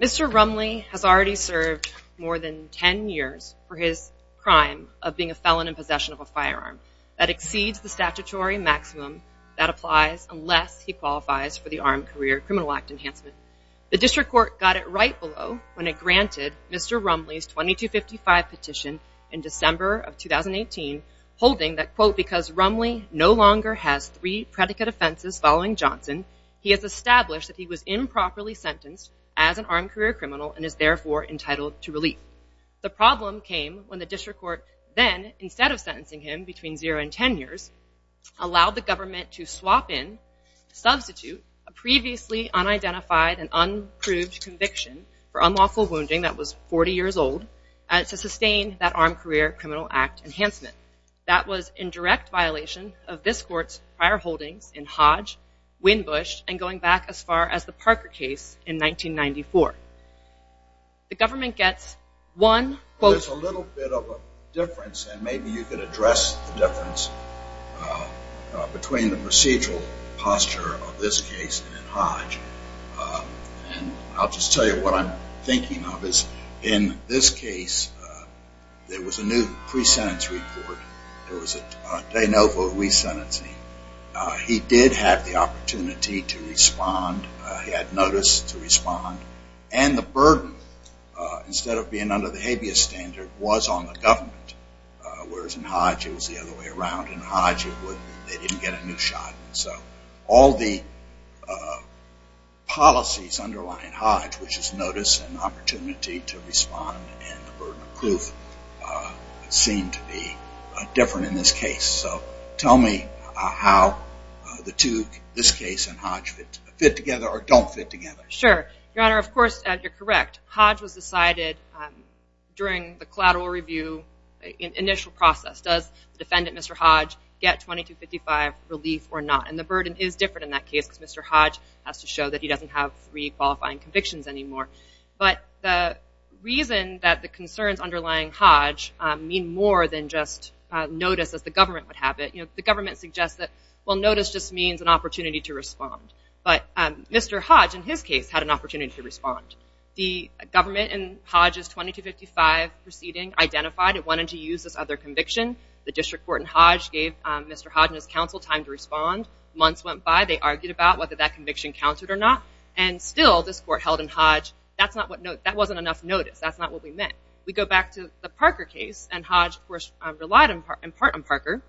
Mr. Rumley has already served more than 10 years for his crime of being a felon in possession of a firearm that exceeds the statutory maximum that applies unless he qualifies for the Armed Career Criminal Act enhancement. The district court got it right below when it granted Mr. Rumley's 2255 petition in December of 2018 holding that quote because Rumley no longer has three predicate offenses following Johnson he has established that he was improperly sentenced as an armed career criminal and is therefore entitled to relief. The problem came when the district court then instead of sentencing him between zero and ten years allowed the government to swap in substitute a previously unidentified and unproved conviction for unlawful wounding that was 40 years old and to sustain that Armed Career Criminal Act enhancement. That was in direct violation of this court's prior holdings in Hodge, Winbush and going back as far as the Parker case in 1994. The government gets one quote. There's a little bit of a difference and maybe you could address the difference between the procedural posture of this case and Hodge and I'll just tell you what I'm thinking of is in this case there was a new pre-sentence report. There was a de novo re-sentencing. He did have the opportunity to respond. He had notice to respond and the burden instead of being under the habeas standard was on the government whereas in Hodge it was the other way around. In Hodge they didn't get a new shot. So all the policies underlying Hodge which is notice and opportunity to respond and the burden of proof seemed to be different in this case. So tell me how the two, this case and Hodge fit together or don't fit together. Sure. Your Honor, of course you're correct. Hodge was decided during the collateral review initial process. Does the defendant, Mr. Hodge, get 2255 relief or not? And the burden is different in that case because Mr. Hodge has to show that he doesn't have three qualifying convictions anymore. But the reason that the concerns underlying Hodge mean more than just notice as the government would have it. The government suggests that well notice just means an opportunity to respond. But Mr. Hodge, in his case, had an opportunity to respond. The government in Hodge's 2255 proceeding identified it wanted to use this other conviction. The district court in Hodge gave Mr. Hodge and his counsel time to respond. Months went by. They argued about whether that conviction counseled or not. And still this court held in Hodge that wasn't enough notice. That's not what we meant. We go back to the Parker case and Hodge of course relied in part on Parker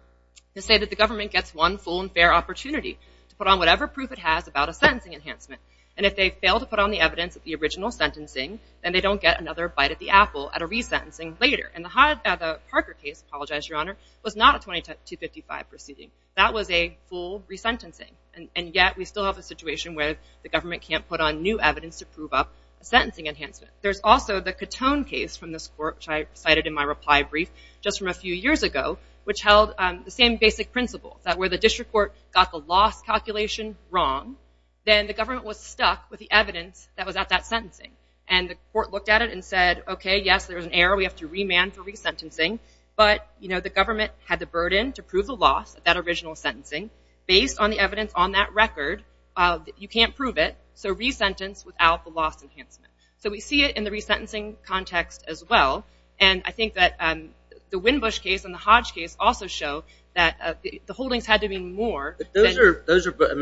to say that the government gets one full and fair opportunity to put on whatever proof it has about a sentencing enhancement. And if they fail to put on the evidence of the original sentencing, then they don't get another bite at the apple at a resentencing later. And the Parker case, I apologize, Your Honor, was not a 2255 proceeding. That was a full resentencing. And yet we still have a situation where the government can't put on new evidence to prove up a sentencing enhancement. There's also the Catone case from this court, which I cited in my reply brief just from a few years ago, which held the same basic principle. That where the district court got the loss calculation wrong, then the government was stuck with the evidence that was at that sentencing. And the court looked at it and said, okay, yes, there's an error. We have to remand for resentencing. But the government had the burden to prove the loss at that original sentencing. Based on the evidence on that record, you can't prove it. So resentence without the loss enhancement. So we see it in the resentencing context as well. And I think that the Windbush case and the Hodge case also show that the holdings had to be more. Those are,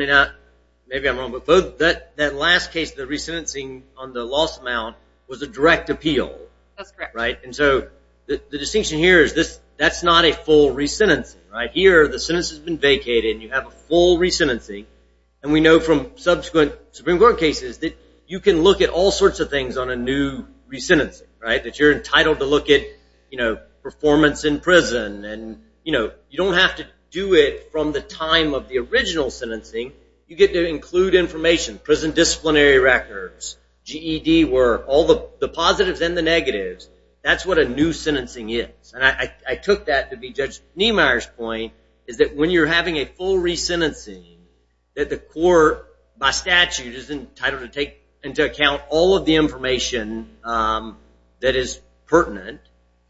maybe I'm wrong, but that last case, the resentencing on the loss amount was a direct appeal. That's correct. The distinction here is that's not a full resentencing. Here the sentence has been vacated and you have a full resentencing. And we know from subsequent Supreme Court cases that you can look at all sorts of things on a new resentencing. That you're entitled to look at performance in prison. You don't have to do it from the time of the original sentencing. You get to include information, prison disciplinary records, GED work, all the positives and the negatives. That's what a new sentencing is. And I took that to be Judge Niemeyer's point is that when you're having a full resentencing, that the court by statute is entitled to take into account all of the information that is pertinent.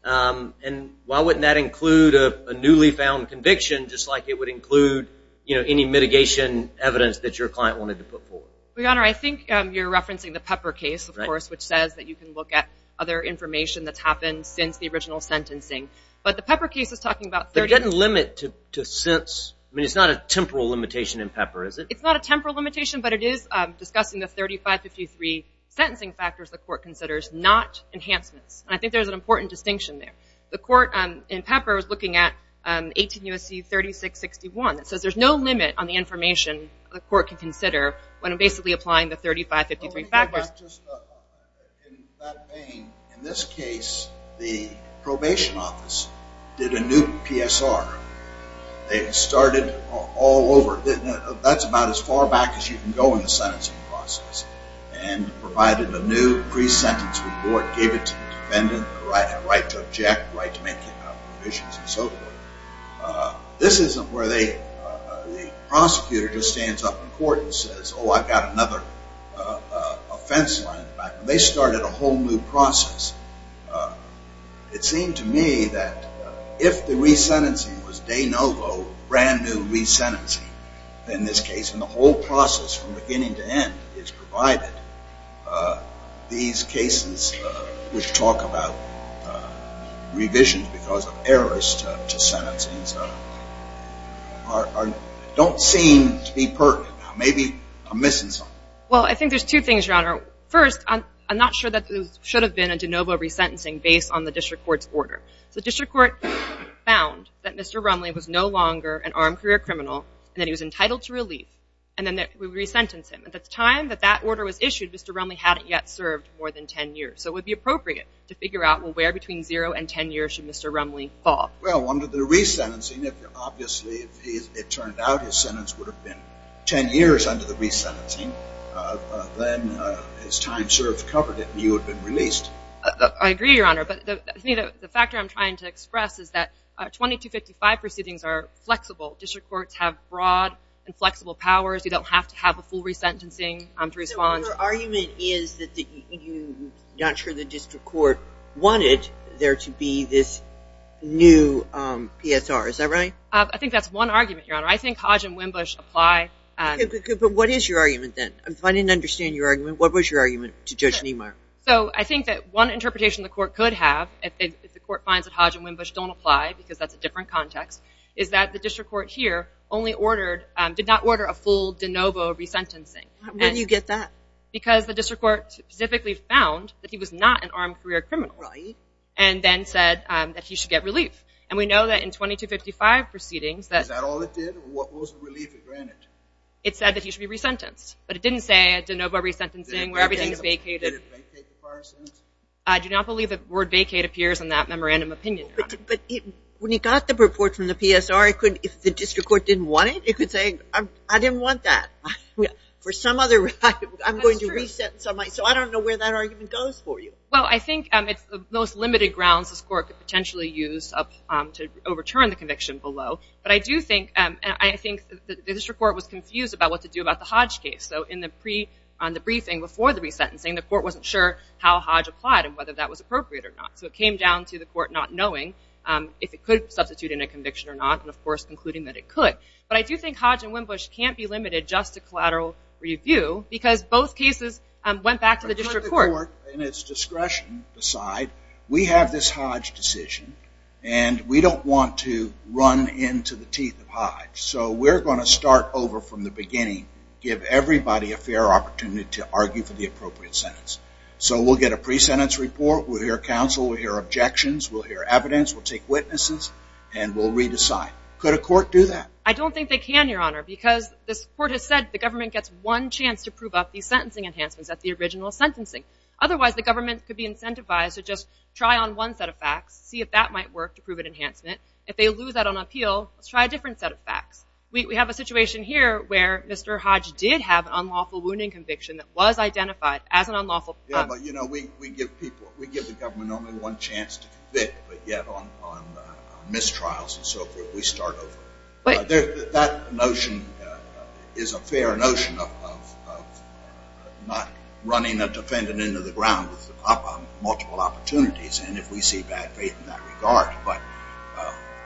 And why wouldn't that include a newly found conviction just like it would include any mitigation evidence that your client wanted to put forward? Your Honor, I think you're referencing the Pepper case, of course, which says that you can look at other information that's happened since the original sentencing. But the Pepper case is talking about 30… There's a limit to since. I mean, it's not a temporal limitation in Pepper, is it? It's not a temporal limitation, but it is discussing the 3553 sentencing factors the court considers, not enhancements. And I think there's an important distinction there. The court in Pepper is looking at 18 U.S.C. 3661. It says there's no limit on the information the court can consider when basically applying the 3553 factors. In that vein, in this case, the probation office did a new PSR. They started all over. That's about as far back as you can go in the sentencing process. And provided a new pre-sentence report, gave it to the defendant, the right to object, the right to make convictions, and so forth. This isn't where the prosecutor just stands up in court and says, oh, I've got another offense line in the back. They started a whole new process. It seemed to me that if the re-sentencing was de novo, brand new re-sentencing in this case, and the whole process from beginning to end is provided, these cases which talk about revisions because of errors to sentencings don't seem to be pertinent. Maybe I'm missing something. Well, I think there's two things, Your Honor. First, I'm not sure that there should have been a de novo re-sentencing based on the district court's order. The district court found that Mr. Rumley was no longer an armed career criminal, and that he was entitled to relief, and then that we re-sentenced him. At the time that that order was issued, Mr. Rumley hadn't yet served more than 10 years. So it would be appropriate to figure out, well, where between zero and 10 years should Mr. Rumley fall? Well, under the re-sentencing, obviously, if it turned out his sentence would have been 10 years under the re-sentencing, then his time served covered it and he would have been released. I agree, Your Honor. But the factor I'm trying to express is that 2255 proceedings are flexible. District courts have broad and flexible powers. You don't have to have a full re-sentencing to respond. Your argument is that you're not sure the district court wanted there to be this new PSR. Is that right? I think that's one argument, Your Honor. I think Hodge and Winbush apply. But what is your argument, then? If I didn't understand your argument, what was your argument to Judge Niemeyer? So I think that one interpretation the court could have, if the court finds that Hodge and Winbush don't apply, because that's a different context, is that the district court here only ordered – did not order a full de novo re-sentencing. When did you get that? Because the district court specifically found that he was not an armed career criminal. Right. And then said that he should get relief. And we know that in 2255 proceedings that – Is that all it did? What was the relief it granted? It said that he should be re-sentenced, but it didn't say a de novo re-sentencing where everything is vacated. Did it vacate the prior sentence? I do not believe the word vacate appears in that memorandum opinion, Your Honor. But when he got the report from the PSR, if the district court didn't want it, it could say, I didn't want that. For some other reason, I'm going to re-sentence somebody. So I don't know where that argument goes for you. Well, I think it's the most limited grounds this court could potentially use to overturn the conviction below. But I do think – and I think the district court was confused about what to do about the Hodge case. So in the briefing before the re-sentencing, the court wasn't sure how Hodge applied and whether that was appropriate or not. So it came down to the court not knowing if it could substitute in a conviction or not and, of course, concluding that it could. But I do think Hodge and Winbush can't be limited just to collateral review because both cases went back to the district court. Let the court, in its discretion, decide. We have this Hodge decision, and we don't want to run into the teeth of Hodge. So we're going to start over from the beginning, give everybody a fair opportunity to argue for the appropriate sentence. So we'll get a pre-sentence report. We'll hear counsel. We'll hear objections. We'll hear evidence. We'll take witnesses, and we'll re-decide. Could a court do that? I don't think they can, Your Honor, because this court has said the government gets one chance to prove up the sentencing enhancements at the original sentencing. Otherwise, the government could be incentivized to just try on one set of facts, see if that might work to prove an enhancement. If they lose that on appeal, let's try a different set of facts. We have a situation here where Mr. Hodge did have an unlawful wounding conviction that was identified as an unlawful. Yeah, but, you know, we give the government only one chance to convict, but yet on mistrials and so forth, we start over. That notion is a fair notion of not running a defendant into the ground with multiple opportunities, and if we see bad faith in that regard. But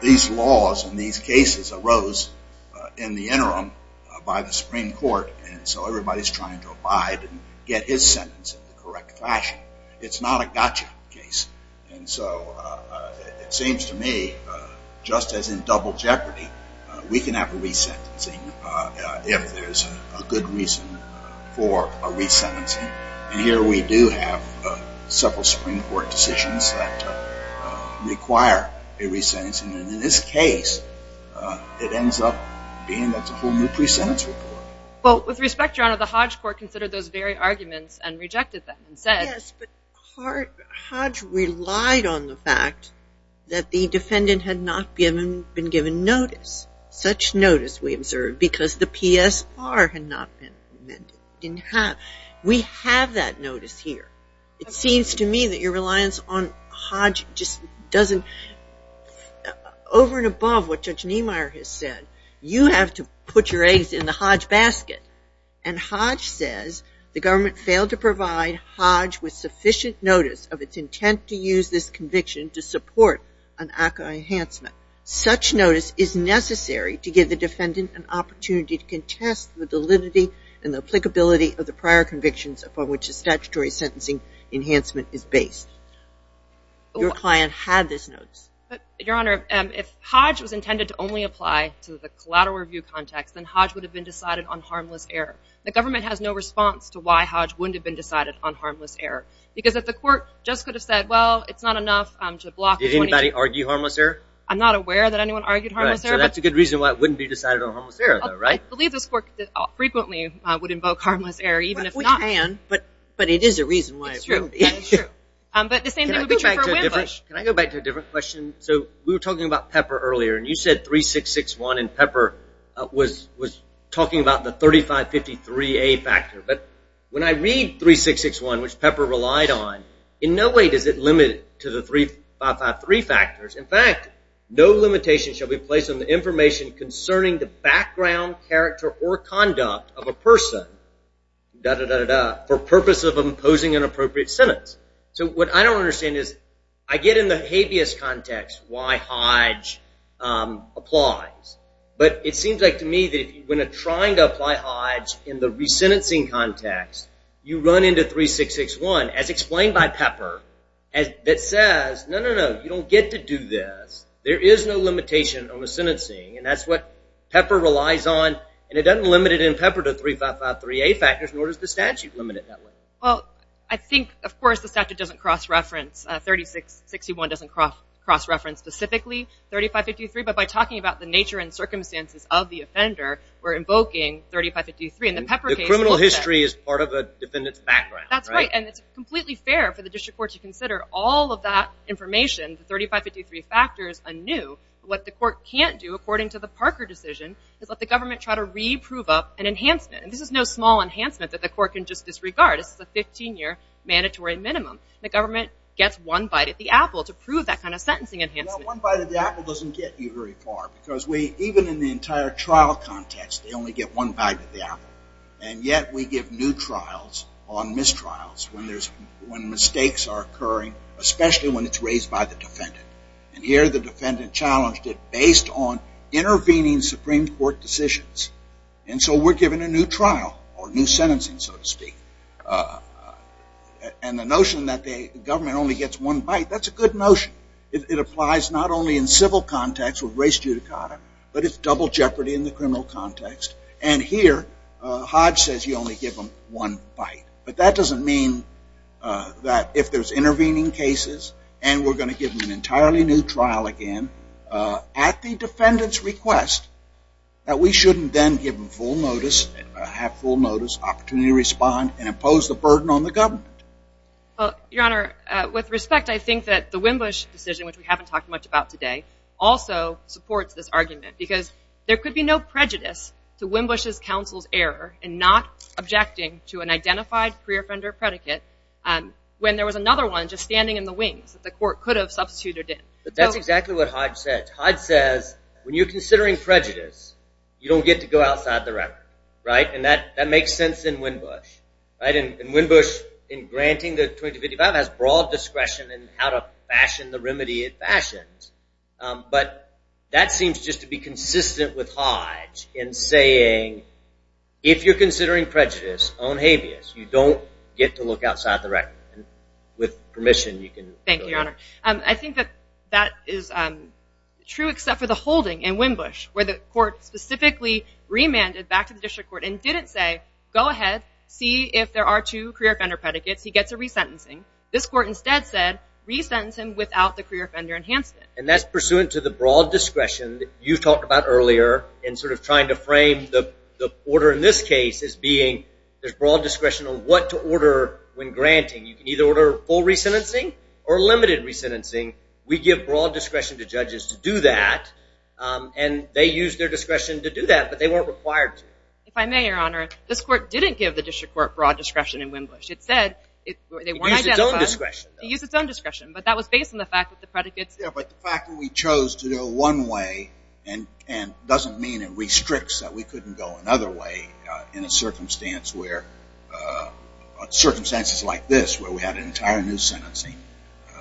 these laws and these cases arose in the interim by the Supreme Court, and so everybody's trying to abide and get his sentence in the correct fashion. It's not a gotcha case, and so it seems to me, just as in Double Jeopardy, we can have a resentencing if there's a good reason for a resentencing. And here we do have several Supreme Court decisions that require a resentencing, and in this case, it ends up being that's a whole new pre-sentence report. Well, with respect, Your Honor, the Hodge Court considered those very arguments and rejected them and said... Yes, but Hodge relied on the fact that the defendant had not been given notice, such notice we observed, because the PSR had not been amended. We have that notice here. It seems to me that your reliance on Hodge just doesn't... Over and above what Judge Niemeyer has said, you have to put your eggs in the Hodge basket. And Hodge says, the government failed to provide Hodge with sufficient notice of its intent to use this conviction to support an ACCA enhancement. Such notice is necessary to give the defendant an opportunity to contest the validity and the applicability of the prior convictions upon which a statutory sentencing enhancement is based. Your client had this notice. Your Honor, if Hodge was intended to only apply to the collateral review context, then Hodge would have been decided on harmless error. The government has no response to why Hodge wouldn't have been decided on harmless error, because if the court just could have said, well, it's not enough to block... Does anybody argue harmless error? I'm not aware that anyone argued harmless error. So that's a good reason why it wouldn't be decided on harmless error, though, right? I believe this court frequently would invoke harmless error, even if not... We can, but it is a reason why it wouldn't be. It's true. That is true. But the same thing would be true for a wind push. Can I go back to a different question? So we were talking about Pepper earlier, and you said 3661, and Pepper was talking about the 3553A factor. But when I read 3661, which Pepper relied on, in no way does it limit to the 3553 factors. In fact, no limitation shall be placed on the information concerning the background, character, or conduct of a person, da-da-da-da-da, for purpose of imposing an appropriate sentence. So what I don't understand is I get in the habeas context why Hodge applies, but it seems like to me that when trying to apply Hodge in the resentencing context, you run into 3661, as explained by Pepper, that says, no, no, no, you don't get to do this. There is no limitation on the sentencing, and that's what Pepper relies on, and it doesn't limit it in Pepper to 3553A factors, nor does the statute limit it that way. Well, I think, of course, the statute doesn't cross-reference. 3661 doesn't cross-reference specifically 3553, but by talking about the nature and circumstances of the offender, we're invoking 3553, and the Pepper case- The criminal history is part of the defendant's background, right? That's right, and it's completely fair for the district court to consider all of that information, the 3553 factors, anew. What the court can't do, according to the Parker decision, is let the government try to re-prove up an enhancement, and this is no small enhancement that the court can just disregard. This is a 15-year mandatory minimum. The government gets one bite at the apple to prove that kind of sentencing enhancement. Well, one bite at the apple doesn't get you very far, because even in the entire trial context, they only get one bite at the apple, and yet we give new trials on mistrials when mistakes are occurring, especially when it's raised by the defendant, and here the defendant challenged it based on intervening Supreme Court decisions, and so we're giving a new trial, or new sentencing, so to speak, and the notion that the government only gets one bite, that's a good notion. It applies not only in civil context with race judicata, but it's double jeopardy in the criminal context, and here, Hodge says you only give them one bite, but that doesn't mean that if there's intervening cases, and we're going to give them an entirely new trial again, at the defendant's request, that we shouldn't then give them full notice, opportunity to respond and impose the burden on the government. Your Honor, with respect, I think that the Wimbush decision, which we haven't talked much about today, also supports this argument, because there could be no prejudice to Wimbush's counsel's error in not objecting to an identified pre-offender predicate when there was another one just standing in the wings that the court could have substituted in. But that's exactly what Hodge says. Hodge says when you're considering prejudice, you don't get to go outside the record, right? And that makes sense in Wimbush, right? And Wimbush, in granting the 2255, has broad discretion in how to fashion the remedy it fashions, but that seems just to be consistent with Hodge in saying, if you're considering prejudice on habeas, you don't get to look outside the record. With permission, you can go ahead. Your Honor, I think that that is true except for the holding in Wimbush, where the court specifically remanded back to the district court and didn't say, go ahead, see if there are two pre-offender predicates. He gets a resentencing. This court instead said, resentence him without the pre-offender enhancement. And that's pursuant to the broad discretion that you talked about earlier in sort of trying to frame the order in this case as being there's broad discretion on what to order when granting. You can either order full resentencing or limited resentencing. We give broad discretion to judges to do that, and they use their discretion to do that, but they weren't required to. If I may, Your Honor, this court didn't give the district court broad discretion in Wimbush. It said they weren't identified. It used its own discretion, though. It used its own discretion, but that was based on the fact that the predicates. Yeah, but the fact that we chose to go one way doesn't mean it restricts that we couldn't go another way in circumstances like this where we had an entire new sentencing.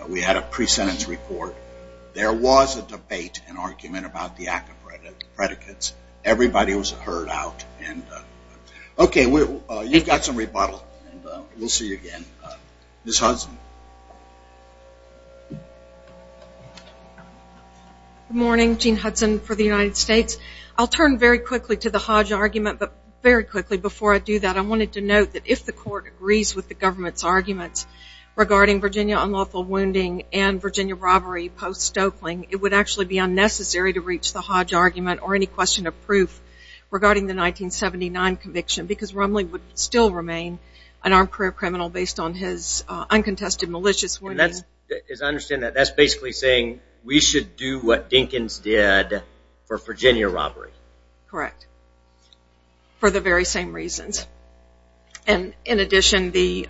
We had a pre-sentence report. There was a debate and argument about the active predicates. Everybody was heard out. Okay, you've got some rebuttal, and we'll see you again. Ms. Hudson. Good morning. Jean Hudson for the United States. I'll turn very quickly to the Hodge argument, but very quickly before I do that, I wanted to note that if the court agrees with the government's arguments regarding Virginia unlawful wounding and Virginia robbery post-Stokeling, it would actually be unnecessary to reach the Hodge argument or any question of proof regarding the 1979 conviction because Rumley would still remain an armed career criminal based on his uncontested, malicious wounding. As I understand that, that's basically saying we should do what Dinkins did for Virginia, Virginia robbery. Correct. For the very same reasons. And in addition, the...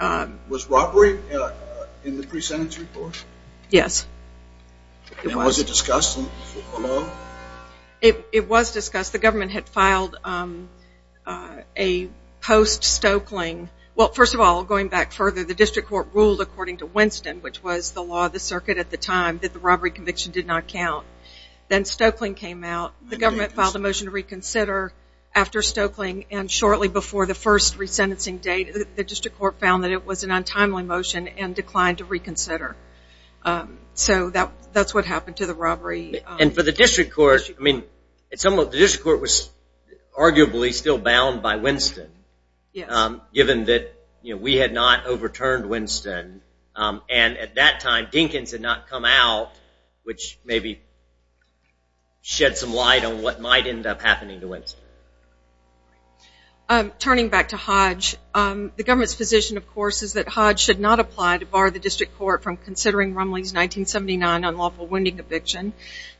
Was robbery in the pre-sentence report? Yes, it was. And was it discussed? It was discussed. The government had filed a post-Stokeling. Well, first of all, going back further, the district court ruled according to Winston, which was the law of the circuit at the time, that the robbery conviction did not count. Then Stokeling came out. The government filed a motion to reconsider after Stokeling, and shortly before the first resentencing date, the district court found that it was an untimely motion and declined to reconsider. So that's what happened to the robbery. And for the district court, I mean, the district court was arguably still bound by Winston. Yes. Given that we had not overturned Winston, and at that time Dinkins had not come out, which maybe shed some light on what might end up happening to Winston. Turning back to Hodge, the government's position, of course, is that Hodge should not apply to bar the district court from considering Rumley's 1979 unlawful wounding conviction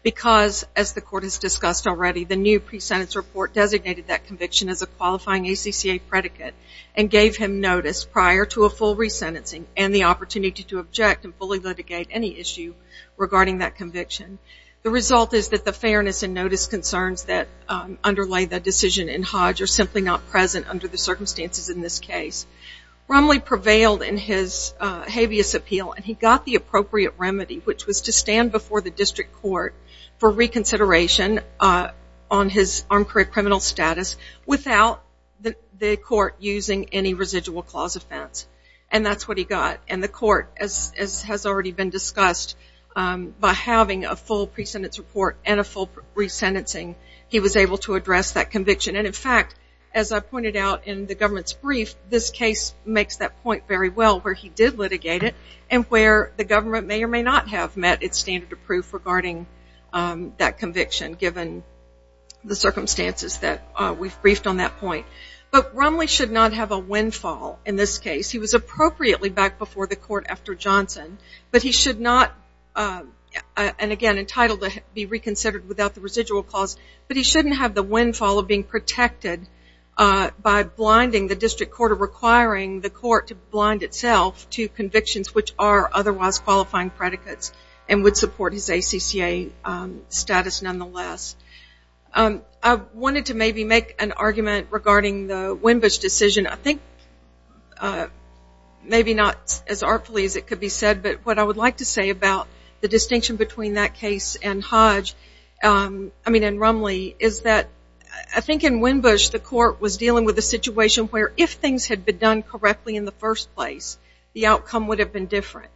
because, as the court has discussed already, the new pre-sentence report designated that conviction as a qualifying ACCA predicate and gave him notice prior to a full resentencing and the opportunity to object and fully litigate any issue regarding that conviction. The result is that the fairness and notice concerns that underlay the decision in Hodge are simply not present under the circumstances in this case. Rumley prevailed in his habeas appeal, and he got the appropriate remedy, which was to stand before the district court for reconsideration on his armed criminal status without the court using any residual clause offense. And that's what he got. And the court, as has already been discussed, by having a full pre-sentence report and a full resentencing, he was able to address that conviction. And in fact, as I pointed out in the government's brief, this case makes that point very well where he did litigate it and where the government may or may not have met its standard of proof regarding that conviction, given the circumstances that we've briefed on that point. But Rumley should not have a windfall in this case. He was appropriately back before the court after Johnson, but he should not, and again entitled to be reconsidered without the residual clause, but he shouldn't have the windfall of being protected by blinding the district court or requiring the court to blind itself to convictions which are otherwise qualifying predicates and would support his ACCA status nonetheless. I wanted to maybe make an argument regarding the Wimbush decision. I think maybe not as artfully as it could be said, but what I would like to say about the distinction between that case and Rumley is that I think in Wimbush, the court was dealing with a situation where if things had been done correctly in the first place, the outcome would have been different.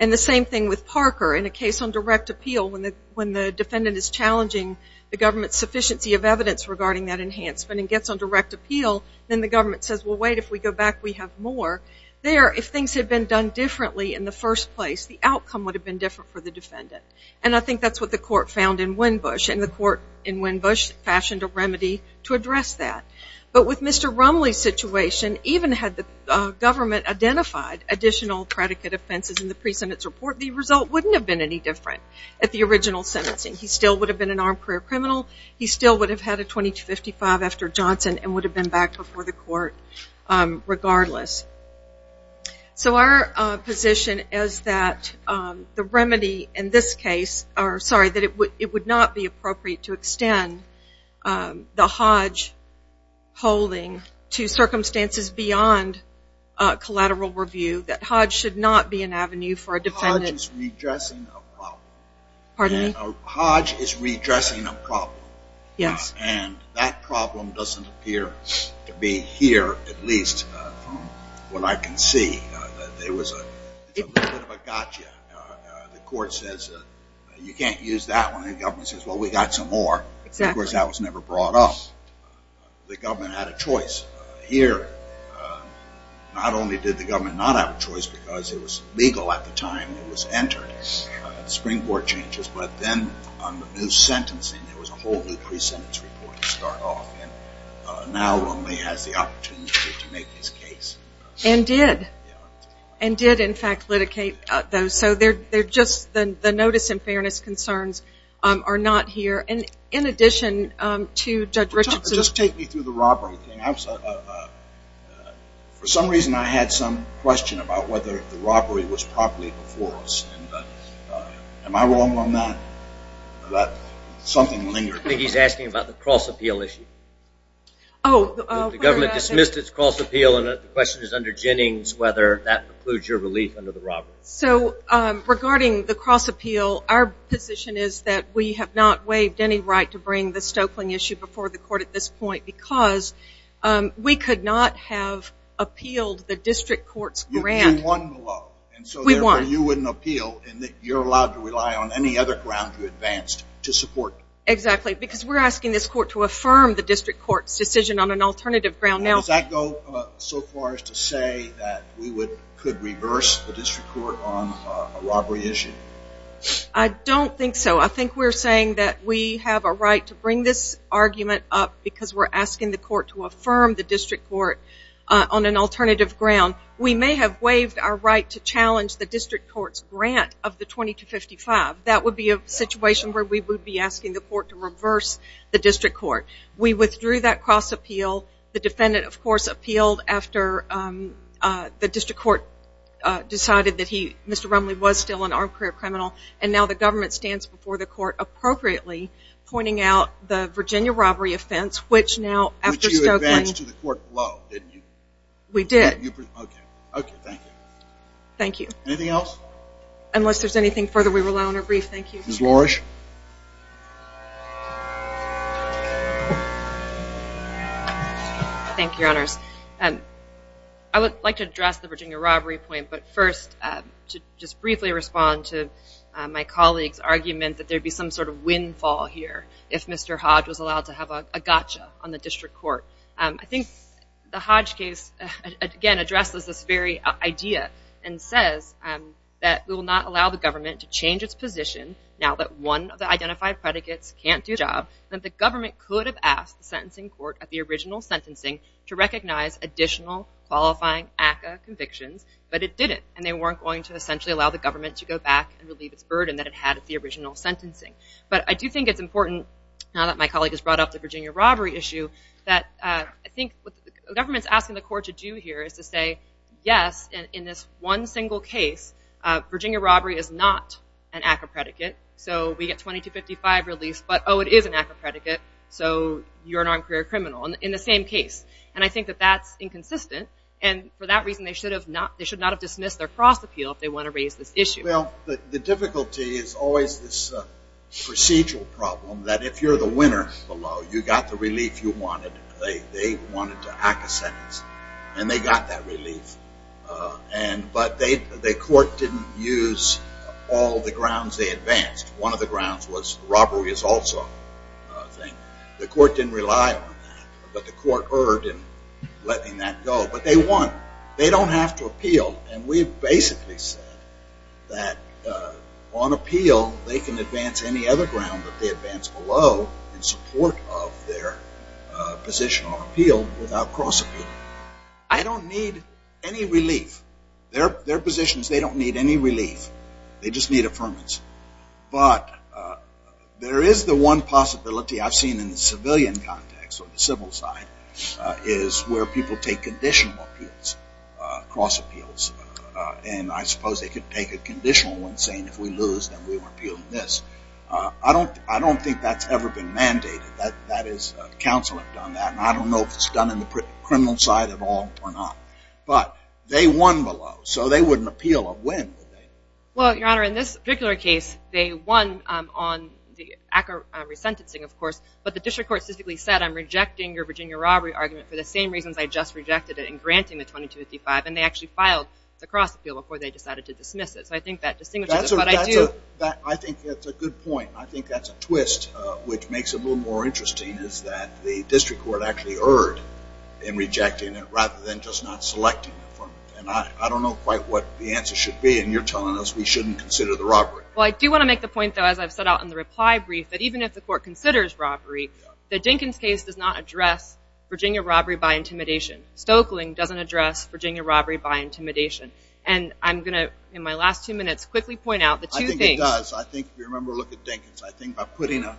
And the same thing with Parker. In a case on direct appeal, when the defendant is challenging the government's sufficiency of evidence regarding that enhancement and gets on direct appeal, then the government says, well, wait, if we go back, we have more. There, if things had been done differently in the first place, the outcome would have been different for the defendant. And I think that's what the court found in Wimbush, and the court in Wimbush fashioned a remedy to address that. But with Mr. Rumley's situation, even had the government identified additional predicate offenses in the pre-sentence report, the result wouldn't have been any different at the original sentencing. He still would have been an armed career criminal. He still would have had a 2255 after Johnson and would have been back before the court regardless. So our position is that the remedy in this case, or sorry, that it would not be appropriate to extend the Hodge holding to circumstances beyond collateral review, that Hodge should not be an avenue for a defendant. Hodge is redressing a problem. Pardon me? Hodge is redressing a problem. Yes. And that problem doesn't appear to be here, at least from what I can see. There was a little bit of a gotcha. The court says you can't use that one. The government says, well, we got some more. Of course, that was never brought up. The government had a choice here. Not only did the government not have a choice because it was legal at the time it was entered, spring board changes, but then on the new sentencing, there was a whole new pre-sentence report to start off in. Now only has the opportunity to make his case. And did. And did, in fact, litigate those. So they're just the notice and fairness concerns are not here. And in addition to Judge Richardson's Just take me through the robbery thing. For some reason, I had some question about whether the robbery was properly before us. Am I wrong on that? Something lingered. I think he's asking about the cross-appeal issue. The government dismissed its cross-appeal, and the question is under Jennings whether that includes your relief under the robbery. So regarding the cross-appeal, our position is that we have not waived any right to bring the Stokelyn issue before the court at this point because we could not have appealed the district court's grant. You won the law. We won. And so therefore you wouldn't appeal, and you're allowed to rely on any other ground you advanced to support. Exactly. Because we're asking this court to affirm the district court's decision on an alternative ground. Does that go so far as to say that we could reverse the district court on a robbery issue? I don't think so. I think we're saying that we have a right to bring this argument up because we're asking the court to affirm the district court on an alternative ground. We may have waived our right to challenge the district court's grant of the 2255. That would be a situation where we would be asking the court to reverse the district court. We withdrew that cross-appeal. The defendant, of course, appealed after the district court decided that he, Mr. Rumley, was still an armed career criminal, and now the government stands before the court appropriately pointing out the Virginia robbery offense, which now after Stokelyn. Which you advanced to the court below, didn't you? We did. Okay. Okay. Thank you. Thank you. Anything else? Unless there's anything further, we rely on our brief. Thank you. Ms. Lorish? Thank you, Your Honors. I would like to address the Virginia robbery point, but first to just briefly respond to my colleague's argument that there would be some sort of windfall here if Mr. Hodge was allowed to have a gotcha on the district court. I think the Hodge case, again, addresses this very idea and says that we will not allow the government to change its position, now that one of the identified predicates can't do the job, that the government could have asked the sentencing court at the original sentencing to recognize additional qualifying ACCA convictions, but it didn't, and they weren't going to essentially allow the government to go back and relieve its burden that it had at the original sentencing. But I do think it's important, now that my colleague has brought up the Virginia robbery issue, that I think what the government is asking the court to do here is to say, yes, in this one single case, Virginia robbery is not an ACCA predicate, so we get 2255 released, but, oh, it is an ACCA predicate, so you're an unqualified criminal in the same case. And I think that that's inconsistent, and for that reason they should not have dismissed their cross appeal if they want to raise this issue. Well, the difficulty is always this procedural problem that if you're the winner below, you got the relief you wanted, they wanted to ACCA sentence, and they got that relief, but the court didn't use all the grounds they advanced. One of the grounds was robbery is also a thing. The court didn't rely on that, but the court erred in letting that go. But they don't have to appeal, and we basically said that on appeal, they can advance any other ground that they advance below in support of their position on appeal without cross appeal. I don't need any relief. Their positions, they don't need any relief. They just need affirmance. But there is the one possibility I've seen in the civilian context, on the civil side, is where people take conditional appeals, cross appeals, and I suppose they could take a conditional one saying if we lose, then we appeal this. I don't think that's ever been mandated. That is, counsel have done that, and I don't know if it's done in the criminal side at all or not. But they won below, so they wouldn't appeal a win. Well, Your Honor, in this particular case, they won on the ACCA resentencing, of course, but the district court specifically said I'm rejecting your Virginia robbery argument for the same reasons I just rejected it in granting the 2255, and they actually filed the cross appeal before they decided to dismiss it. So I think that distinguishes it, but I do. I think that's a good point. I think that's a twist, which makes it a little more interesting, is that the district court actually erred in rejecting it rather than just not selecting it. And I don't know quite what the answer should be, and you're telling us we shouldn't consider the robbery. Well, I do want to make the point, though, as I've set out in the reply brief, that even if the court considers robbery, the Dinkins case does not address Virginia robbery by intimidation. Stoeckling doesn't address Virginia robbery by intimidation. And I'm going to, in my last two minutes, quickly point out the two things. I think it does. I think, if you remember, look at Dinkins. I think by putting a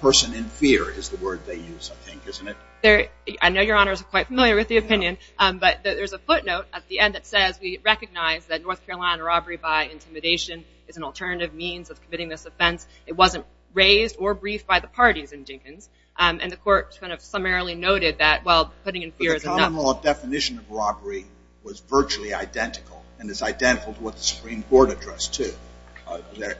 person in fear is the word they use, I think, isn't it? I know Your Honor is quite familiar with the opinion, but there's a footnote at the end that says we recognize that North Carolina robbery by intimidation is an alternative means of committing this offense. It wasn't raised or briefed by the parties in Dinkins, and the court kind of summarily noted that, well, putting in fear is enough. But the common law definition of robbery was virtually identical and is identical to what the Supreme Court addressed, too.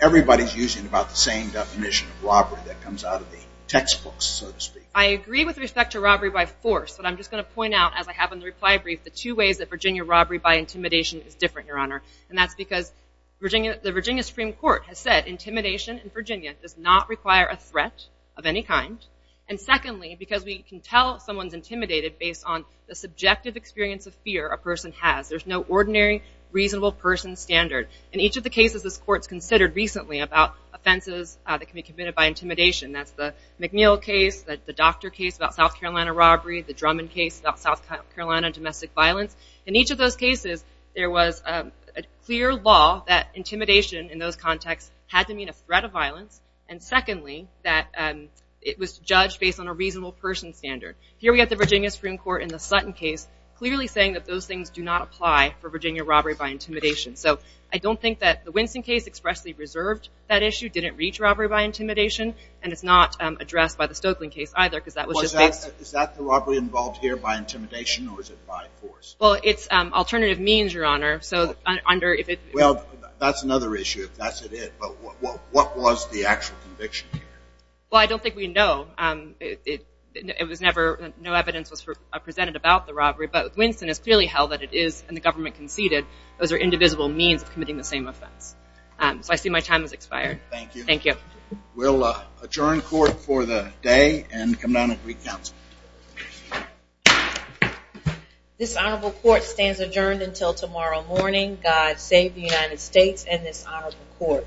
Everybody's using about the same definition of robbery that comes out of the textbooks, so to speak. I agree with respect to robbery by force, but I'm just going to point out, as I have in the reply brief, the two ways that Virginia robbery by intimidation is different, Your Honor, and that's because the Virginia Supreme Court has said intimidation in Virginia does not require a threat of any kind, and secondly, because we can tell someone's intimidated based on the subjective experience of fear a person has. There's no ordinary reasonable person standard. In each of the cases this court's considered recently about offenses that can be committed by intimidation, that's the McNeil case, the doctor case about South Carolina robbery, the Drummond case about South Carolina domestic violence. In each of those cases, there was a clear law that intimidation in those contexts had to mean a threat of violence, and secondly, that it was judged based on a reasonable person standard. Here we have the Virginia Supreme Court in the Sutton case clearly saying that those things do not apply for Virginia robbery by intimidation. So I don't think that the Winston case expressly reserved that issue, didn't reach robbery by intimidation, and it's not addressed by the Stokeland case either because that was just based... Well, is that the robbery involved here by intimidation or is it by force? Well, it's alternative means, Your Honor, so under if it... Well, that's another issue if that's it, but what was the actual conviction here? Well, I don't think we know. It was never... no evidence was presented about the robbery, but Winston has clearly held that it is, and the government conceded, those are indivisible means of committing the same offense. So I see my time has expired. Thank you. Thank you. We'll adjourn court for the day and come down and recounsel. This honorable court stands adjourned until tomorrow morning. God save the United States and this honorable court.